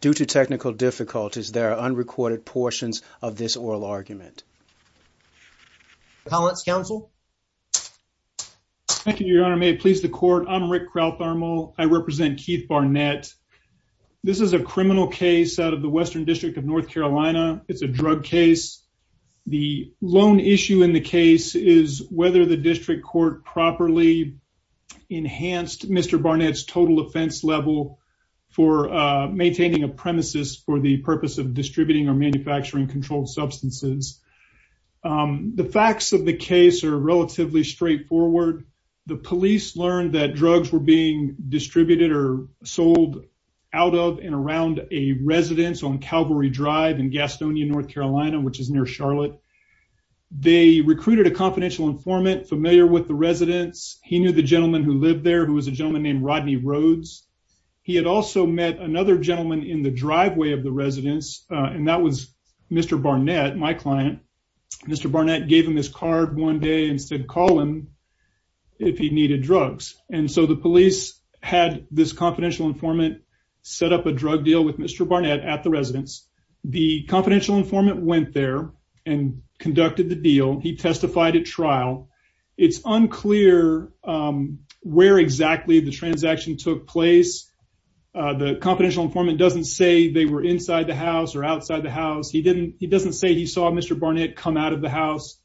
Due to technical difficulties, there are unrecorded portions of this oral argument. How it's counsel. Thank you, Your Honor. May it please the court. I'm Rick Kraut thermal. I represent Keith Barnett. This is a criminal case out of the Western District of North Carolina. It's a drug case. The loan issue in the case is whether the district court properly enhanced Mr Barnett's total offense level for maintaining a premises for the purpose of distributing or manufacturing controlled substances. The facts of the case are relatively straightforward. The police learned that drugs were being distributed or sold out of and around a residence on Calvary Drive in Gastonia, North Carolina, which is near Charlotte. They recruited a confidential informant familiar with the residence. He knew the gentleman who lived there, who was a He had also met another gentleman in the driveway of the residence, and that was Mr Barnett, my client. Mr Barnett gave him his card one day and said, call him if he needed drugs. And so the police had this confidential informant set up a drug deal with Mr Barnett at the residence. The confidential informant went there and conducted the deal. He testified at the confidential informant doesn't say they were inside the house or outside the house. He didn't. He doesn't say he saw Mr Barnett come out of the house.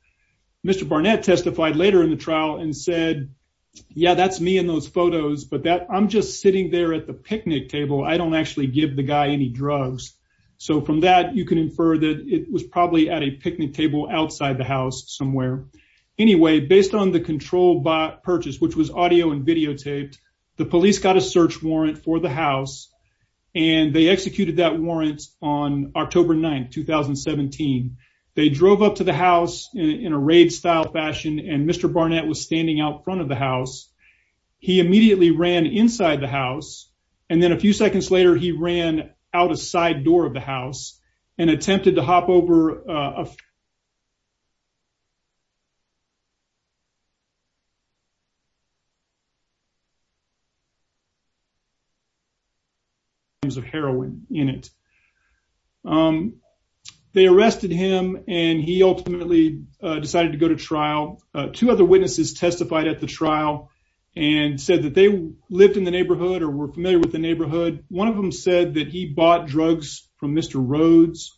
Mr Barnett testified later in the trial and said, Yeah, that's me in those photos, but that I'm just sitting there at the picnic table. I don't actually give the guy any drugs. So from that, you could infer that it was probably at a picnic table outside the house somewhere. Anyway, based on the control by purchase, which was audio and videotaped, the police got a search warrant for the house, and they executed that warrant on October 9th, 2017. They drove up to the house in a raid style fashion, and Mr Barnett was standing out front of the house. He immediately ran inside the house, and then a few seconds later, he ran out a side door of the house and attempted to hop over the door. There's a heroin in it. Um, they arrested him, and he ultimately decided to go to trial. Two other witnesses testified at the trial and said that they lived in the neighborhood or were familiar with the neighborhood. One of them said that he bought drugs from Mr Rhodes.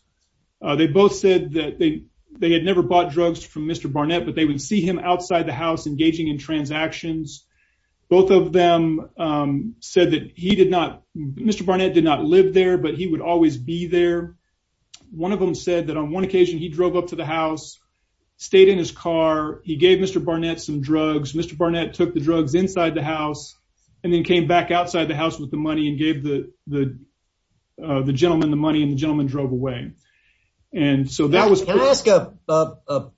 They both said that they they had never bought drugs from Mr Barnett, but they would see him outside the house, engaging in transactions. Both of them, um, said that he did not. Mr Barnett did not live there, but he would always be there. One of them said that on one occasion he drove up to the house, stayed in his car. He gave Mr Barnett some drugs. Mr Barnett took the drugs inside the house and then came back outside the house with the money and gave the the the gentleman the money and the gentleman drove away. And so that was can I ask a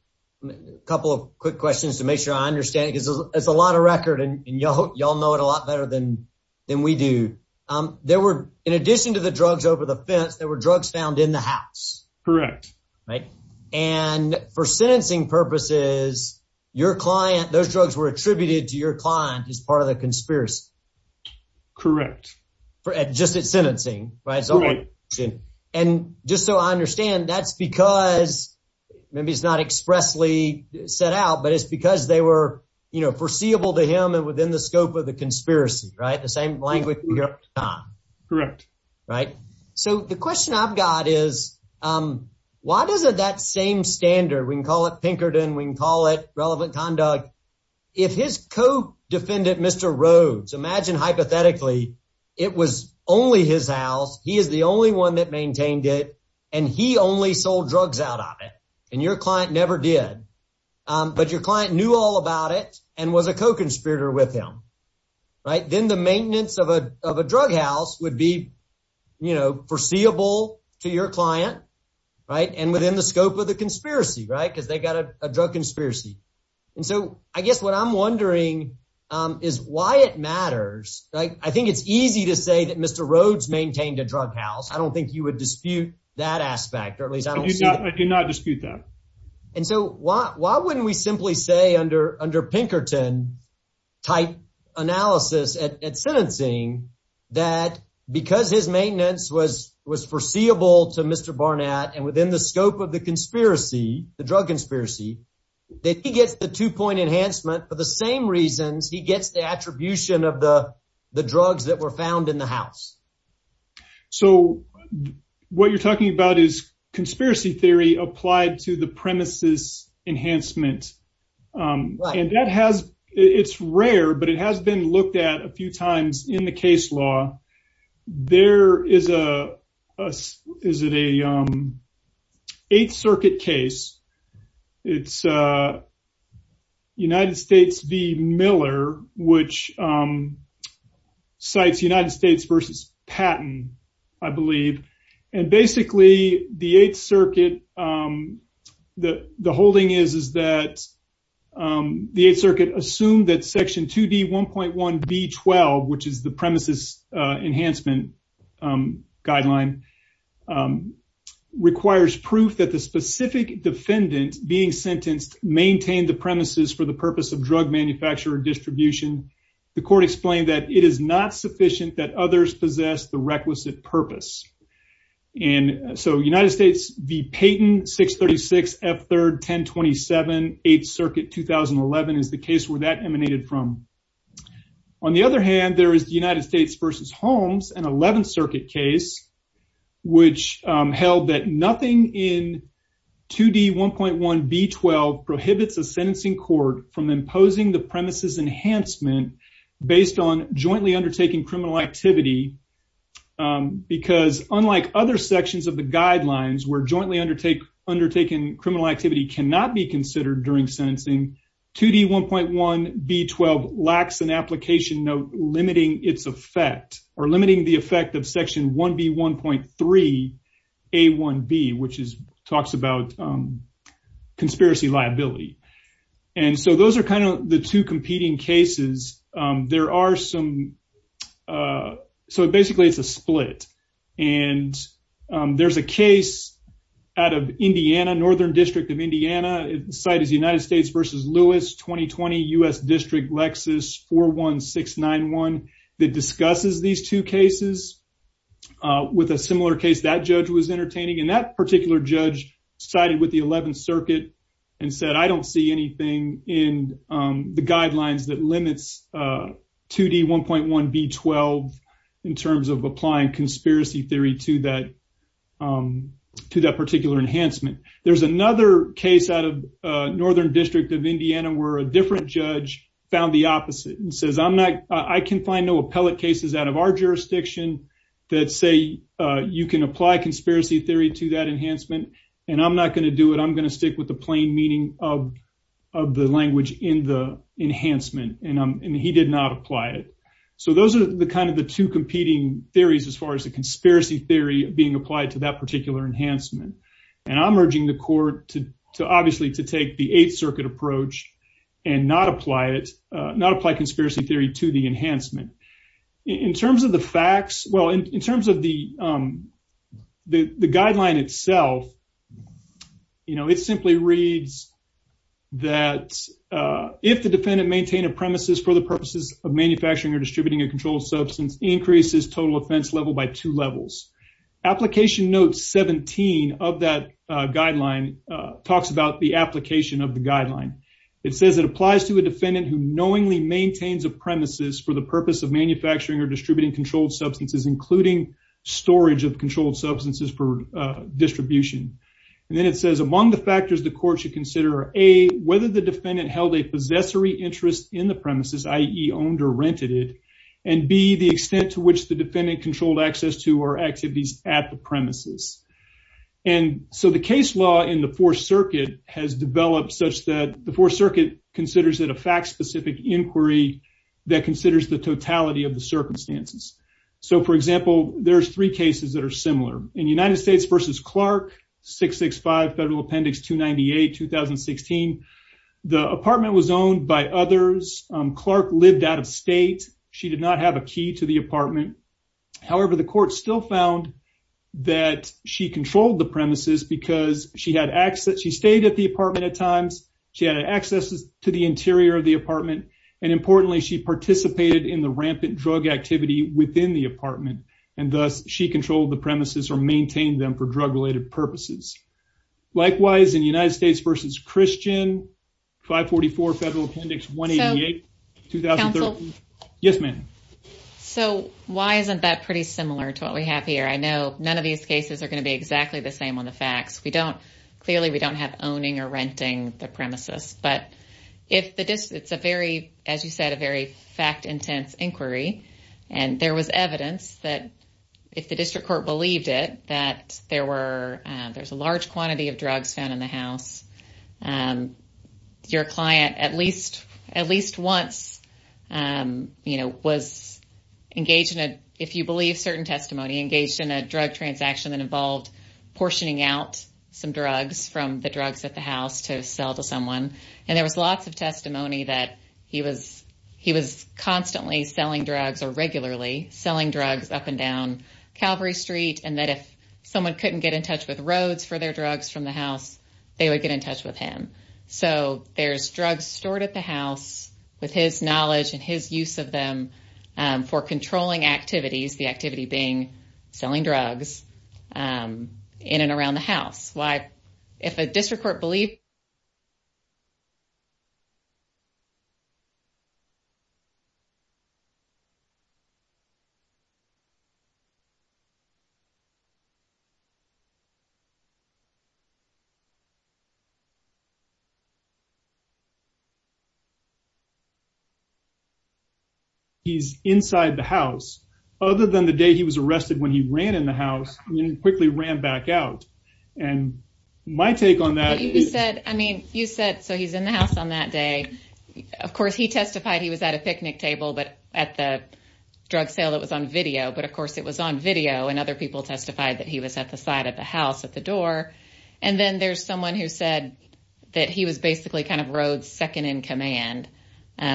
couple of quick questions to make sure I understand because it's a lot of record and y'all know it a lot better than than we do. Um, there were, in addition to the drugs over the fence, there were drugs found in the house. Correct. Right. And for sentencing purposes, your client, those drugs were attributed to your client as part of the conspiracy. Correct. For just it's sentencing, right? And just so I understand, that's because maybe it's not expressly set out, but it's because they were, you know, foreseeable to him and within the scope of the conspiracy, right? The same language. Correct. Right. So the question I've got is, um, why does it that same standard? We can call it Pinkerton. We can call it relevant conduct. If his co defendant, Mr Rhodes, imagine hypothetically it was only his house. He is the only one that but your client knew all about it and was a co conspirator with him, right? Then the maintenance of a drug house would be, you know, foreseeable to your client, right? And within the scope of the conspiracy, right? Because they got a drug conspiracy. And so I guess what I'm wondering, um, is why it matters. Like, I think it's easy to say that Mr Rhodes maintained a drug house. I don't think you would dispute that aspect, or at least I do not dispute that. And so why? Why wouldn't we simply say under under Pinkerton type analysis at sentencing that because his maintenance was was foreseeable to Mr Barnett and within the scope of the conspiracy, the drug conspiracy that he gets the two point enhancement for the same reasons he gets the attribution of the drugs that were found in the house. So what you're talking about is to the premises enhancement. Um, and that has it's rare, but it has been looked at a few times in the case law. There is a is it a, um, Eighth Circuit case. It's, uh, United States v Miller, which, um, sites United States versus Patton, I believe. And basically, the Eighth Circuit, um, the holding is is that, um, the Eighth Circuit assumed that Section two d 1.1 B 12, which is the premises enhancement, um, guideline, um, requires proof that the specific defendant being sentenced maintained the premises for the purpose of drug manufacturer distribution. The court explained that it is not sufficient that others possess the requisite purpose. And so United States v Payton 6 36 F 3rd 10 27 8th Circuit 2011 is the case where that emanated from. On the other hand, there is the United States versus Holmes and 11th Circuit case, which held that nothing in two d 1.1 B 12 prohibits a sentencing court from imposing the activity. Um, because unlike other sections of the guidelines were jointly undertake undertaken, criminal activity cannot be considered during sentencing. Two d 1.1 B 12 lacks an application note limiting its effect or limiting the effect of Section 1 B 1.3 A 1 B, which is talks about, um, conspiracy liability. And so those air kind of the two competing cases. There are some, uh, so basically, it's a split. And, um, there's a case out of Indiana, Northern District of Indiana. Site is United States versus Lewis 2020 U. S. District Lexus 41691 that discusses these two cases with a similar case. That judge was entertaining, and that particular judge sided with the 11th 1 B 12 in terms of applying conspiracy theory to that, um, to that particular enhancement. There's another case out of Northern District of Indiana, where a different judge found the opposite and says, I'm not I can find no appellate cases out of our jurisdiction that say you can apply conspiracy theory to that enhancement, and I'm not gonna do it. I'm gonna stick with the plain meaning of the language in the enhancement, and he did not apply it. So those are the kind of the two competing theories as far as the conspiracy theory being applied to that particular enhancement. And I'm urging the court to obviously to take the Eighth Circuit approach and not apply it, not apply conspiracy theory to the enhancement in terms of the facts. Well, in terms of the, um, the guideline itself, you know, it simply reads that if the defendant maintain a premises for the purposes of manufacturing or distributing a controlled substance increases total offense level by two levels, application notes 17 of that guideline talks about the application of the guideline. It says it applies to a defendant who knowingly maintains a premises for the purpose of manufacturing or distributing controlled substances, including storage of controlled substances for distribution. And then it says among the factors the court should consider a whether the defendant held a possessory interest in the premises, I e owned or rented it and be the extent to which the defendant controlled access to our activities at the premises. And so the case law in the Fourth Circuit has developed such that the Fourth Circuit considers that a fact specific inquiry that considers the are similar in United States versus Clark 665 Federal Appendix 2 98 2016. The apartment was owned by others. Clark lived out of state. She did not have a key to the apartment. However, the court still found that she controlled the premises because she had access. She stayed at the apartment at times. She had access to the interior of the apartment, and importantly, she participated in the rampant drug activity within the apartment, and thus she controlled the premises or maintained them for drug related purposes. Likewise, in United States versus Christian 5 44 Federal Appendix 1 8 2,000. Yes, ma'am. So why isn't that pretty similar to what we have here? I know none of these cases are gonna be exactly the same on the facts. We don't. Clearly, we don't have owning or renting the premises. But if the district's a very, as you said, a very fact intense inquiry, and there was evidence that if the district court believed it that there were, there's a large quantity of drugs found in the house. Um, your client, at least at least once, um, you know, was engaged in it. If you believe certain testimony engaged in a drug transaction that involved portioning out some drugs from the drugs at the house to sell to someone, and there was lots of up and down Calvary Street and that if someone couldn't get in touch with roads for their drugs from the house, they would get in touch with him. So there's drugs stored at the house with his knowledge and his use of them for controlling activities. The activity being selling drugs, um, in and around the house. Why, if a district court believed he's inside the house other than the day he was arrested when he ran in the house and quickly ran back out and my take on that, he said. I mean, you said so he's in the house on that day. Of course, he testified he was at a picnic video. But, of course, it was on video, and other people testified that he was at the side of the house at the door. And then there's someone who said that he was basically kind of road second in command,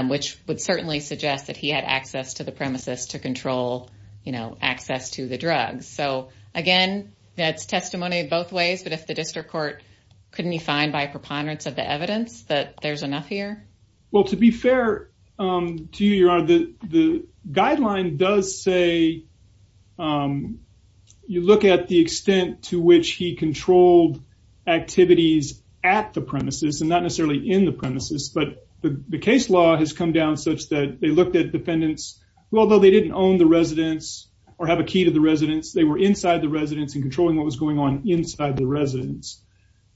which would certainly suggest that he had access to the premises to control, you know, access to the drugs. So again, that's testimony both ways. But if the district court couldn't find by preponderance of the evidence that there's enough here. Well, to be fair to you, your honor, the guideline does say, um, you look at the extent to which he controlled activities at the premises and not necessarily in the premises. But the case law has come down such that they looked at defendants, although they didn't own the residence or have a key to the residence, they were inside the residence and controlling what was going on inside the residence.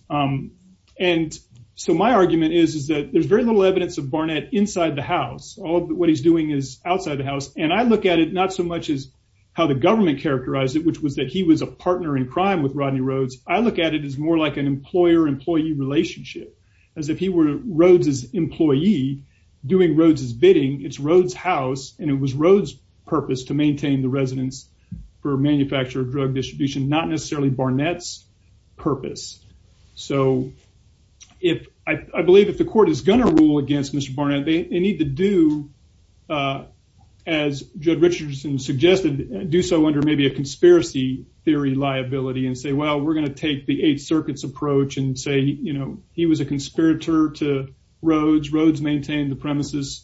Um, and so my argument is, is that there's very little evidence of Barnett inside the house. All that what he's doing is outside the house, and I look at it not so much is how the government characterized it, which was that he was a partner in crime with Rodney Rhoades. I look at it is more like an employer employee relationship as if he were Rhoades's employee doing Rhoades's bidding. It's Rhoades house, and it was Rhoades purpose to maintain the residence for manufacturer drug distribution, not necessarily Barnett's purpose. So if I do, uh, as Judd Richardson suggested, do so under maybe a conspiracy theory liability and say, Well, we're gonna take the Eighth Circuit's approach and say, you know, he was a conspirator to Rhoades. Rhoades maintained the premises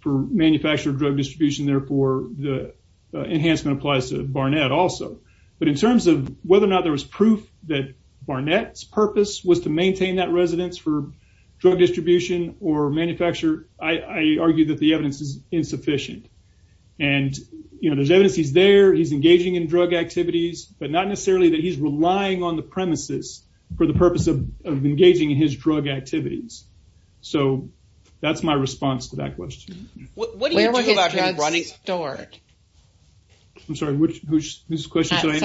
for manufacturer drug distribution. Therefore, the enhancement applies to Barnett also. But in terms of whether or not there was proof that Barnett's purpose was to maintain that residence for drug distribution or manufacturer, I argue that the evidence is insufficient. And you know, there's evidence he's there. He's engaging in drug activities, but not necessarily that he's relying on the premises for the purpose of engaging in his drug activities. So that's my response to that question. What do you do about him running stored? I'm sorry. Which question? Sorry.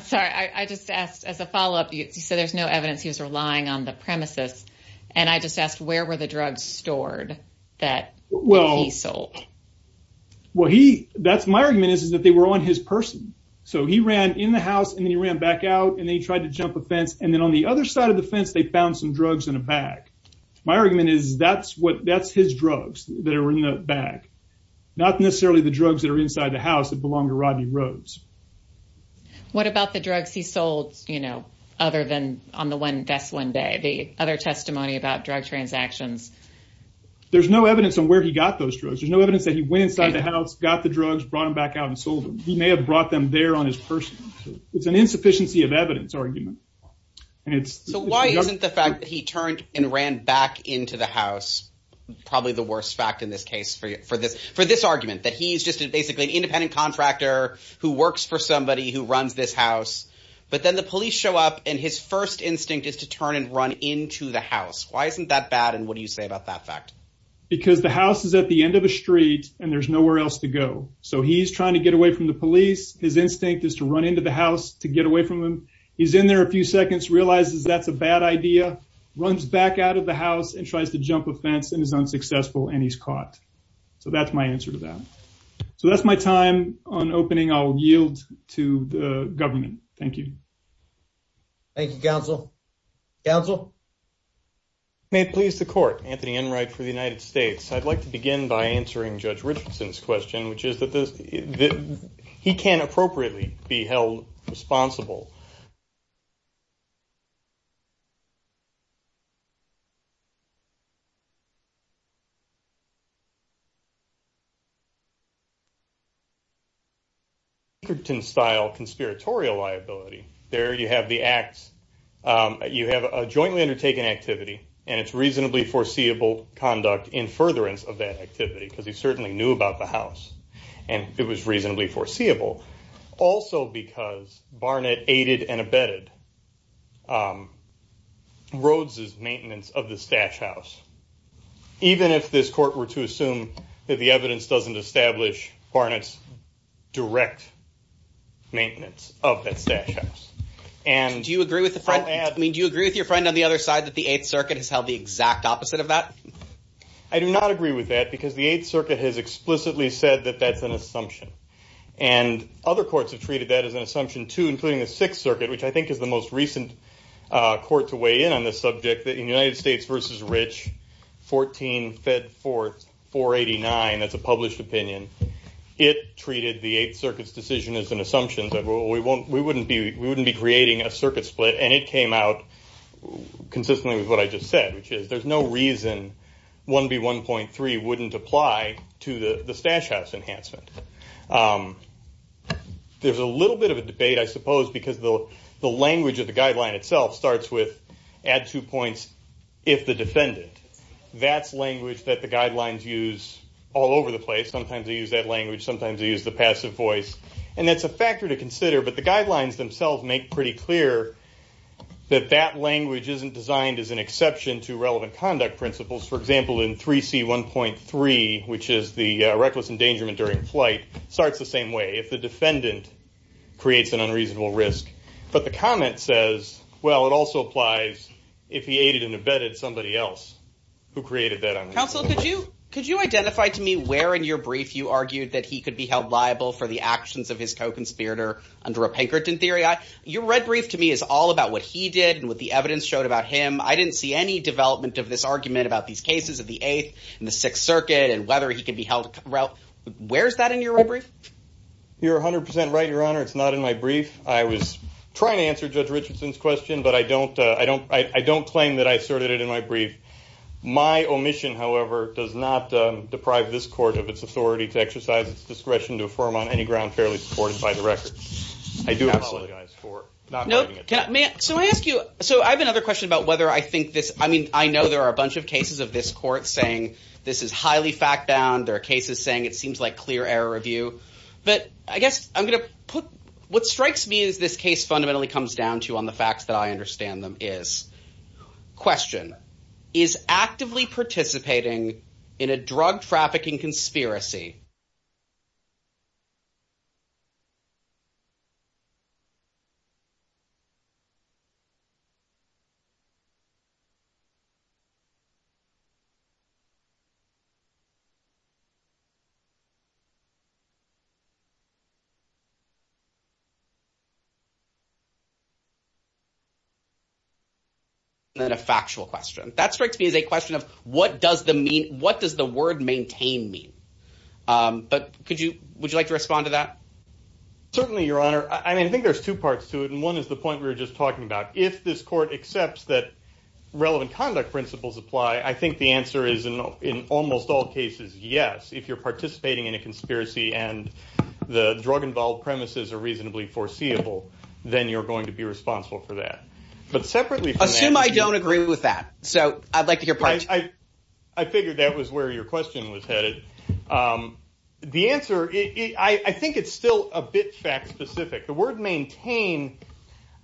Sorry. I just asked as a follow up. You said there's no evidence he was relying on the premises. And I just asked, Where were the drugs stored that well, he sold? Well, he that's my argument is that they were on his person. So he ran in the house, and then he ran back out, and they tried to jump a fence. And then on the other side of the fence, they found some drugs in a bag. My argument is that's what that's his drugs that are in the bag, not necessarily the drugs that are inside the house that belonged to Rodney Rhodes. What about the drugs he sold? You know, other than on the one best one day, the other testimony about drug transactions. There's no evidence on where he got those drugs. There's no evidence that he went inside the house, got the drugs, brought him back out and sold him. He may have brought them there on his person. It's an insufficiency of evidence argument, and it's so why isn't the fact that he turned and ran back into the house? Probably the worst fact in this case for for this for this argument that he's just basically an for somebody who runs this house. But then the police show up, and his first instinct is to turn and run into the house. Why isn't that bad? And what do you say about that fact? Because the house is at the end of the street, and there's nowhere else to go. So he's trying to get away from the police. His instinct is to run into the house to get away from him. He's in there a few seconds, realizes that's a bad idea, runs back out of the house and tries to jump a fence and is unsuccessful, and he's caught. So that's my answer to that. So that's my time on opening. I'll yield to the government. Thank you. Thank you, Council Council. May it please the court. Anthony Enright for the United States. I'd like to begin by answering Judge Richardson's question, which is that this he can appropriately be held responsible. Good to style conspiratorial liability. There you have the acts. You have a jointly undertaken activity, and it's reasonably foreseeable conduct in furtherance of that activity, because he certainly knew about the house, and it was reasonably foreseeable. Also because Barnett aided and abetted Rhodes's maintenance of the stash house. Even if this court were to assume that the evidence doesn't establish Barnett's direct maintenance of that stash house. And do you agree with the front? I mean, do you agree with your friend on the other side that the Eighth Circuit has held the exact opposite of that? I do not agree with that, because the Eighth Circuit has explicitly said that that's an assumption, and other courts have treated that as an assumption, too, including the Sixth Circuit, which I think is the most recent court to weigh in on this subject, that in United States versus Rich, 14 fed forth 489, that's a published opinion. It treated the Eighth Circuit's decision as an assumption that we wouldn't be creating a circuit split, and it came out consistently with what I just said, which is there's no reason 1B1.3 wouldn't apply to the stash house enhancement. There's a little bit of a debate, I suppose, because the language of the guideline itself starts with, add two points, if the defendant. That's language that the guidelines use all over the place. Sometimes they use that language, sometimes they use the passive voice, and that's a factor to consider, but the guidelines themselves make pretty clear that that language isn't designed as an exception to relevant conduct principles. For example, in 3C1.3, which is the reckless endangerment during flight, starts the same way, if the defendant creates an unreasonable risk. But the comment says, well, it also applies if he aided and abetted somebody else who created that unres... Counsel, could you identify to me where in your brief you argued that he could be held liable for the actions of his co-conspirator under a Pinkerton theory? Your red brief to me is all about what he did and what the evidence showed about him. I didn't see any development of this argument about these cases of the Eighth and the Sixth Circuit and whether he could be held... Where's that in your red brief? You're 100% right, Your Honor. It's not in my brief. I was trying to answer Judge Richardson's question, but I don't claim that I asserted it in my brief. My omission, however, does not deprive this court of its authority to exercise its discretion to affirm on any ground fairly supported by the record. I do apologize for not noting it. So I have another question about whether I think this... I know there are a bunch of cases of this court saying this is highly fact-bound. There are cases saying it seems like clear error of view, but I guess I'm going to put... What strikes me as this case fundamentally comes down to on the facts that I understand them is... Question. Is actively participating in a drug trafficking conspiracy... Then a factual question. That strikes me as a question of what does the mean... What does the word maintain mean? But could you... Would you like to respond to that? Certainly, Your Honor. I mean, I think there's two parts to it, and one is the point we were just talking about. If this court accepts that relevant conduct principles apply, I think the answer is in almost all cases, yes. If you're participating in a conspiracy and the drug-involved premises are reasonably foreseeable, then you're going to be responsible for that. But separately from that... Assume I don't agree with that. So I'd like to hear part two. I figured that was where your question was headed. The answer... I think it's still a bit fact-specific. The word maintain...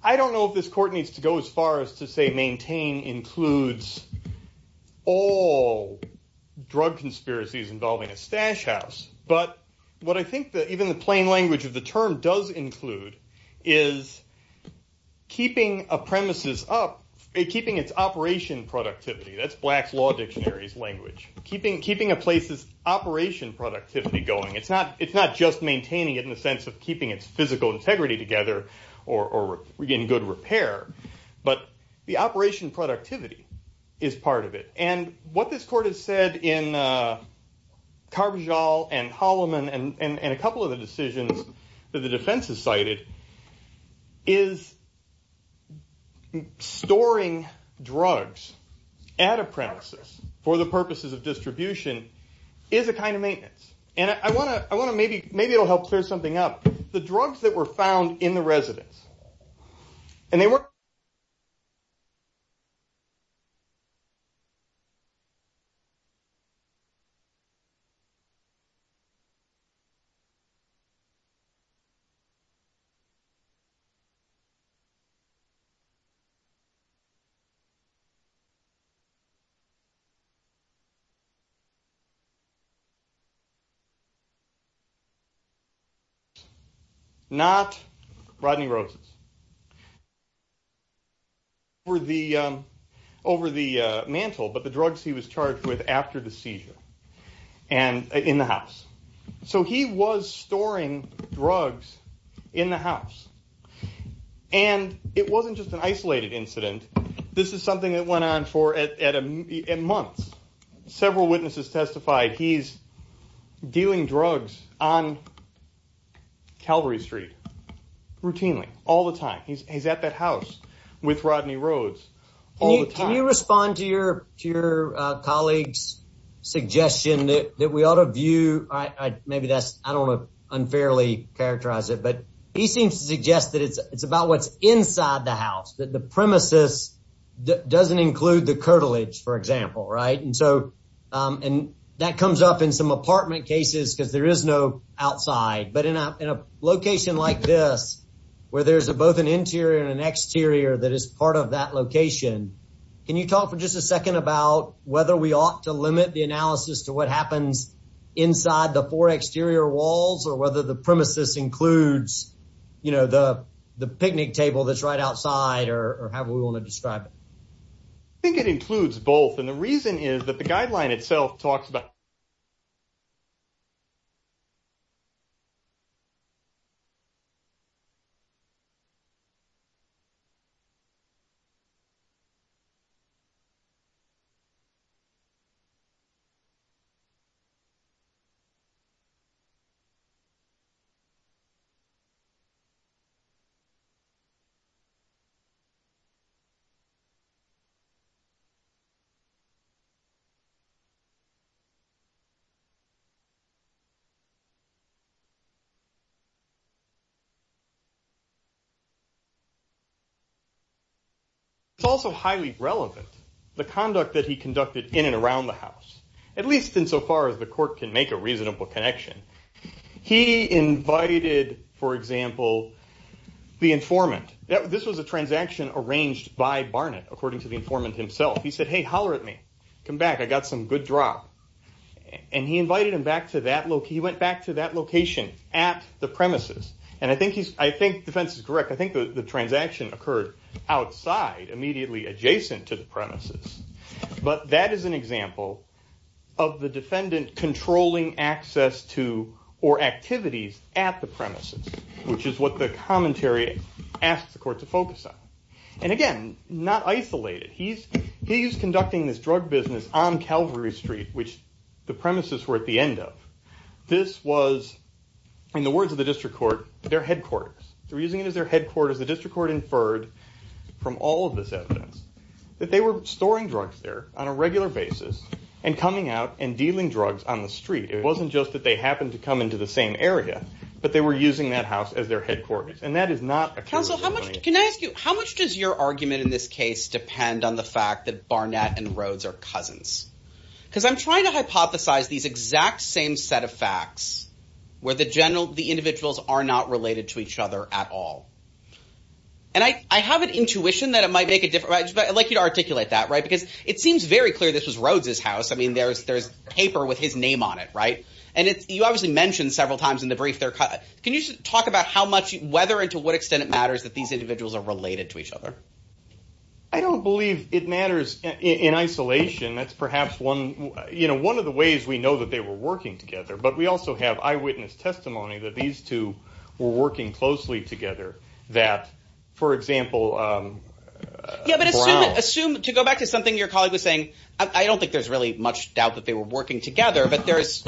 I don't know if this court needs to go as far as to say maintain includes all drug conspiracies involving a stash house. But what I think that even the plain language of the term does include is keeping a premises up, keeping its operation productivity. That's Black's Law Dictionary's language. Keeping a place's operation productivity going. It's not just maintaining it in the sense of keeping its physical integrity together or getting good repair. But the operation productivity is part of it. And what this court has said in Carbajal and Holloman and a couple of the decisions that the defense has cited is storing drugs at a premises for the purposes of distribution is a kind of maintenance. And I want to maybe help clear something up. The drugs that were found in the over the mantle, but the drugs he was charged with after the seizure and in the house. So he was storing drugs in the house. And it wasn't just an isolated incident. This is something that went on for at months. Several witnesses testified he's dealing drugs on Calvary Street routinely, all the time. He's at that house with Rodney Rhodes all the time. Can you respond to your to your colleagues suggestion that we ought to view? Maybe that's I don't unfairly characterize it, but he seems to suggest that it's about what's inside the house, that the premises doesn't include the curtilage, for example, right? And so, um, and that comes up in some apartment cases because there is no outside. But in a location like this, where there's a both an interior and exterior that is part of that location. Can you talk for just a second about whether we ought to limit the analysis to what happens inside the four exterior walls or whether the premises includes, you know, the picnic table that's right outside or have we want to describe? I think it includes both. And the reason is that the guideline itself talks about it's also highly relevant. The conduct that he conducted in and around the house, at least in so far as the court can make a reasonable connection. He invited, for example, the informant that this was a transaction arranged by Barnett, according to the informant himself. He said, Hey, holler at me. Come back. I got some good drop, and he invited him back to that look. He went back to that location at the premises. And I think he's I think defense is correct. I think the transaction occurred outside immediately adjacent to the premises. But that is an example of the defendant controlling access to or activities at the premises, which is what the commentary asked the court to focus on. And again, not isolated. He's he's conducting this drug business on the premises were at the end of this was in the words of the district court, their headquarters. They're using it as their headquarters. The district court inferred from all of this evidence that they were storing drugs there on a regular basis and coming out and dealing drugs on the street. It wasn't just that they happened to come into the same area, but they were using that house as their headquarters. And that is not a council. How much can I ask you? How much does your argument in this case depend on the fact that Barnett and Rhodes are cousins? Because I'm trying to hypothesize these exact same set of facts where the general the individuals are not related to each other at all. And I have an intuition that it might make a difference. But I like you to articulate that, right? Because it seems very clear this was Rhodes's house. I mean, there's there's paper with his name on it, right? And you obviously mentioned several times in the brief there. Can you talk about how much whether and to what extent it matters that these individuals are in isolation? That's perhaps one, you know, one of the ways we know that they were working together. But we also have eyewitness testimony that these two were working closely together that, for example, um, assume to go back to something your colleague was saying. I don't think there's really much doubt that they were working together, but there's,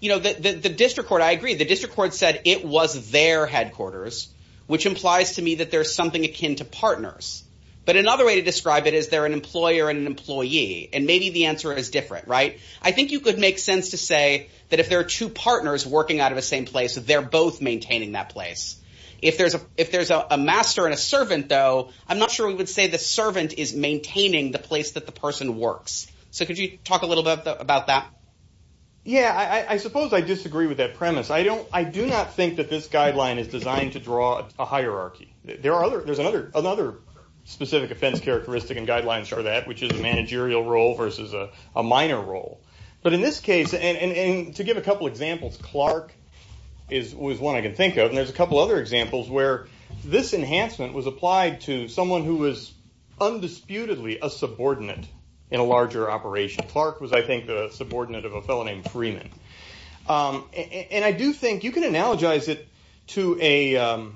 you know, the district court. I agree. The district court said it was their headquarters, which implies to me that there's something akin to partners. But another way to describe it is they're an employer and an employee, and maybe the answer is different, right? I think you could make sense to say that if there are two partners working out of the same place, they're both maintaining that place. If there's a if there's a master and a servant, though, I'm not sure we would say the servant is maintaining the place that the person works. So could you talk a little bit about that? Yeah, I suppose I disagree with that premise. I don't I do not think that this guideline is designed to draw a hierarchy. There are there's another another specific offense characteristic and guidelines for that, which is a managerial role versus a minor role. But in this case, and to give a couple examples, Clark is was one I can think of. And there's a couple other examples where this enhancement was applied to someone who was undisputedly a subordinate in a larger operation. Clark was, I think, the subordinate of a fellow named Freeman. Um, and I do think you can analogize it to a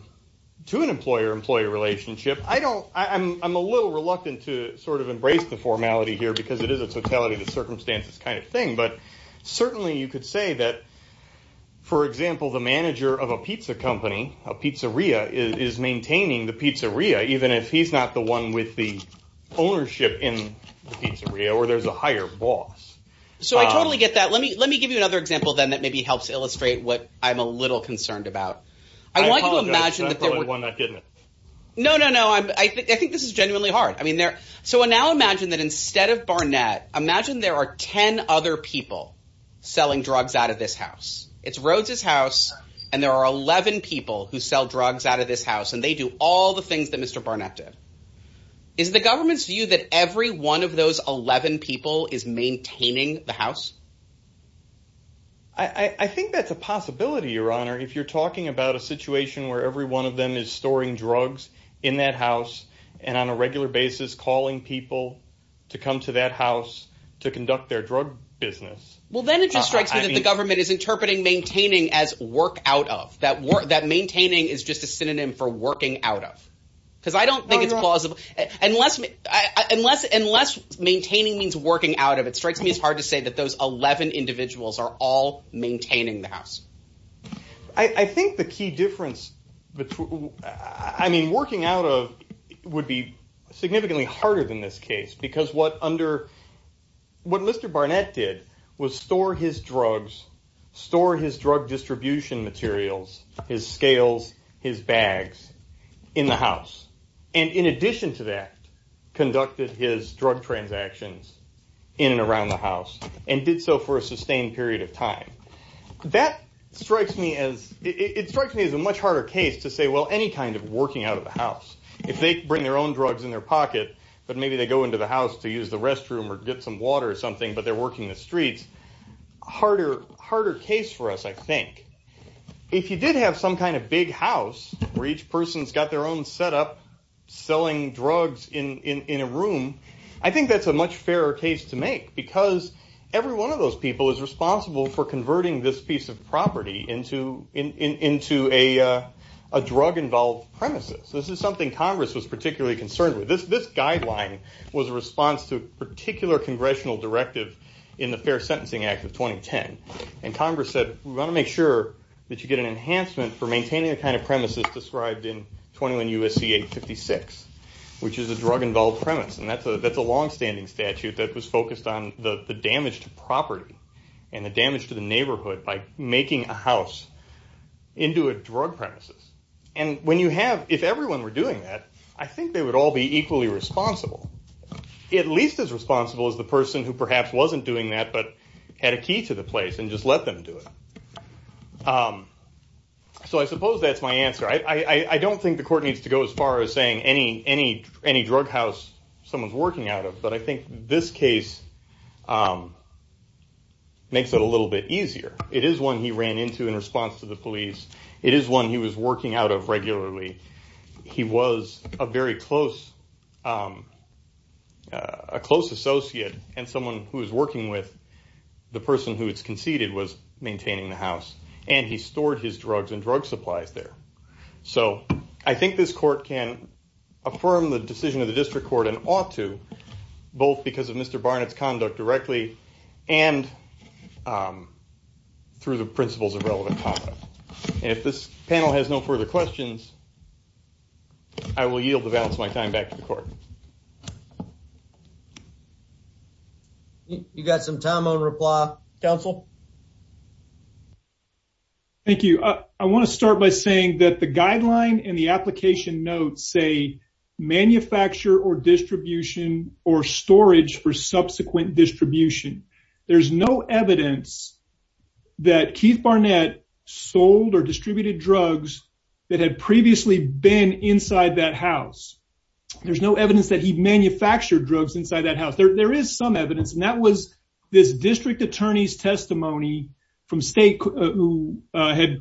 to an employer-employee relationship. I don't I'm a little reluctant to sort of embrace the formality here because it is a totality of the circumstances kind of thing. But certainly you could say that, for example, the manager of a pizza company, a pizzeria, is maintaining the pizzeria even if he's not the one with the ownership in the pizzeria or there's a higher boss. So I totally get that. Let me let me give you another example then that maybe helps illustrate what I'm a not getting it. No, no, no. I think I think this is genuinely hard. I mean, they're so now imagine that instead of Barnett, imagine there are 10 other people selling drugs out of this house. It's Rhodes's house, and there are 11 people who sell drugs out of this house, and they do all the things that Mr Barnett did. Is the government's view that every one of those 11 people is maintaining the house? I think that's a possibility, Your Honor. If you're talking about a store in drugs in that house and on a regular basis calling people to come to that house to conduct their drug business. Well, then it just strikes me that the government is interpreting maintaining as work out of that work that maintaining is just a synonym for working out of because I don't think it's plausible unless unless unless maintaining means working out of it strikes me as hard to say that those 11 individuals are all maintaining the house. I think the key difference between I mean working out of would be significantly harder than this case because what under what Mr Barnett did was store his drugs store his drug distribution materials his scales his bags in the house and in addition to that conducted his drug transactions in around the house and did so for a sustained period of time that strikes me as it strikes me as a much harder case to say well any kind of working out of the house if they bring their own drugs in their pocket but maybe they go into the house to use the restroom or get some water or something but they're working the streets harder harder case for us I think if you did have some kind of big house where each person's got their own setup selling drugs in in a room I think that's a much fairer case to make because every one of those people is responsible for converting this piece of property into into a drug involved premises this is something Congress was particularly concerned with this this guideline was a response to a particular congressional directive in the Fair Sentencing Act of 2010 and Congress said we want to make sure that you get an enhancement for maintaining the kind of premises described in 21 USC 856 which is a drug involved premise and that's a that's a long-standing statute that was focused on the the damage to property and the damage to the neighborhood by making a house into a drug premises and when you have if everyone were doing that I think they would all be equally responsible at least as responsible as the person who perhaps wasn't doing that but had a key to the place and just let them do it so I suppose that's my answer I I don't think the court needs to go as far as saying any any any drug house someone's working out of but I think this case makes it a little bit easier it is one he ran into in response to the police it is one he was working out of regularly he was a very close a close associate and someone who is working with the person who it's conceded was maintaining the house and he stored his drugs and I think this court can affirm the decision of the district court and ought to both because of mr. Barnett's conduct directly and through the principles of relevant if this panel has no further questions I will yield the balance my time back to the court you got some time on reply counsel thank you I want to saying that the guideline and the application notes say manufacture or distribution or storage for subsequent distribution there's no evidence that Keith Barnett sold or distributed drugs that had previously been inside that house there's no evidence that he manufactured drugs inside that house there is some evidence and that was this district attorney's testimony from state who had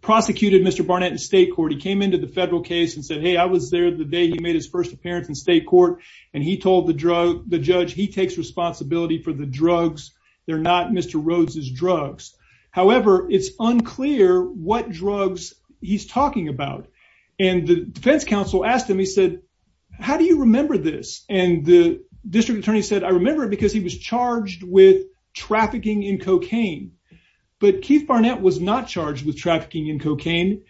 prosecuted mr. Barnett in state court he came into the federal case and said hey I was there the day he made his first appearance in state court and he told the drug the judge he takes responsibility for the drugs they're not mr. Rhodes's drugs however it's unclear what drugs he's talking about and the defense counsel asked him he said how do you remember this and the district attorney said I remember because he was charged with trafficking in cocaine but Keith Barnett was not charged with trafficking in cocaine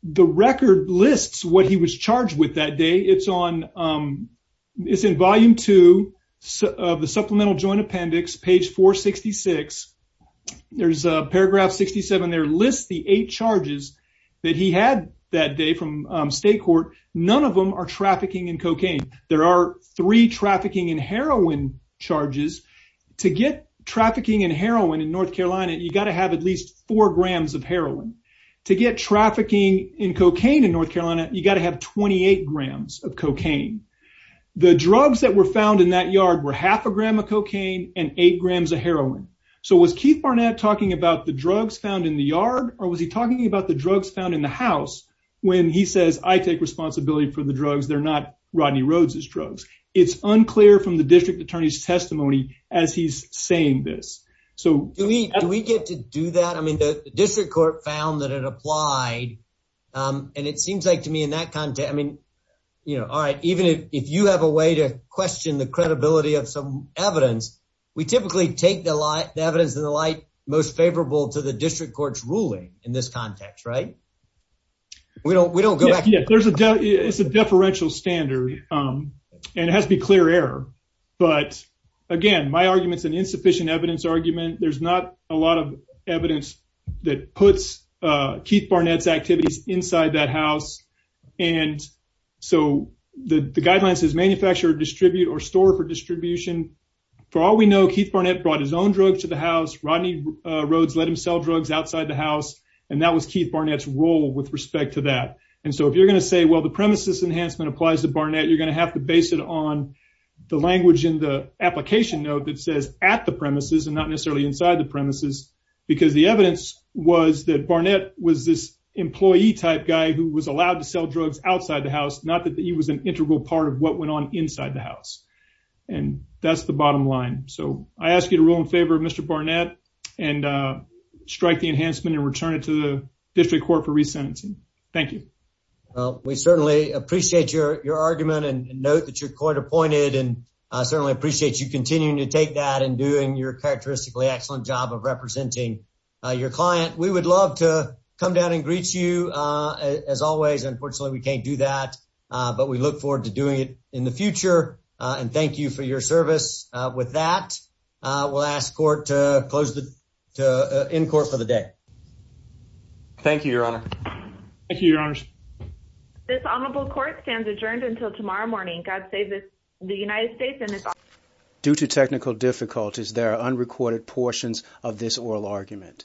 the record lists what he was charged with that day it's on it's in volume two of the supplemental joint appendix page 466 there's a paragraph 67 there lists the eight charges that he had that day from state court none of them are trafficking in cocaine there are three trafficking in heroin charges to get trafficking in North Carolina you got to have at least four grams of heroin to get trafficking in cocaine in North Carolina you got to have 28 grams of cocaine the drugs that were found in that yard were half a gram of cocaine and eight grams of heroin so was Keith Barnett talking about the drugs found in the yard or was he talking about the drugs found in the house when he says I take responsibility for the drugs they're not Rodney Rhodes's drugs it's unclear from the we get to do that I mean the district court found that it applied and it seems like to me in that content I mean you know all right even if you have a way to question the credibility of some evidence we typically take the light evidence in the light most favorable to the district courts ruling in this context right we don't we don't go back yet there's a doubt it's a deferential standard and it has to be clear error but again my arguments an insufficient evidence argument there's not a lot of evidence that puts Keith Barnett's activities inside that house and so the guidelines is manufactured distribute or store for distribution for all we know Keith Barnett brought his own drugs to the house Rodney Rhodes let him sell drugs outside the house and that was Keith Barnett's role with respect to that and so if you're gonna say well the premises enhancement applies to Barnett you're gonna have to base it on the language in the application note that says at the premises and not necessarily inside the premises because the evidence was that Barnett was this employee type guy who was allowed to sell drugs outside the house not that he was an integral part of what went on inside the house and that's the bottom line so I ask you to rule in favor of mr. Barnett and strike the enhancement and return it to the district court for resentencing thank you well we certainly appreciate your argument and note that you're quite appointed and certainly appreciate you continuing to take that and doing your characteristically excellent job of representing your client we would love to come down and greet you as always unfortunately we can't do that but we look forward to doing it in the future and thank you for your service with that we'll ask court to close the in court of the day thank you your honor thank you your honors this honorable court stands adjourned until tomorrow morning God save the United States and it's due to technical difficulties there are unrecorded portions of this oral argument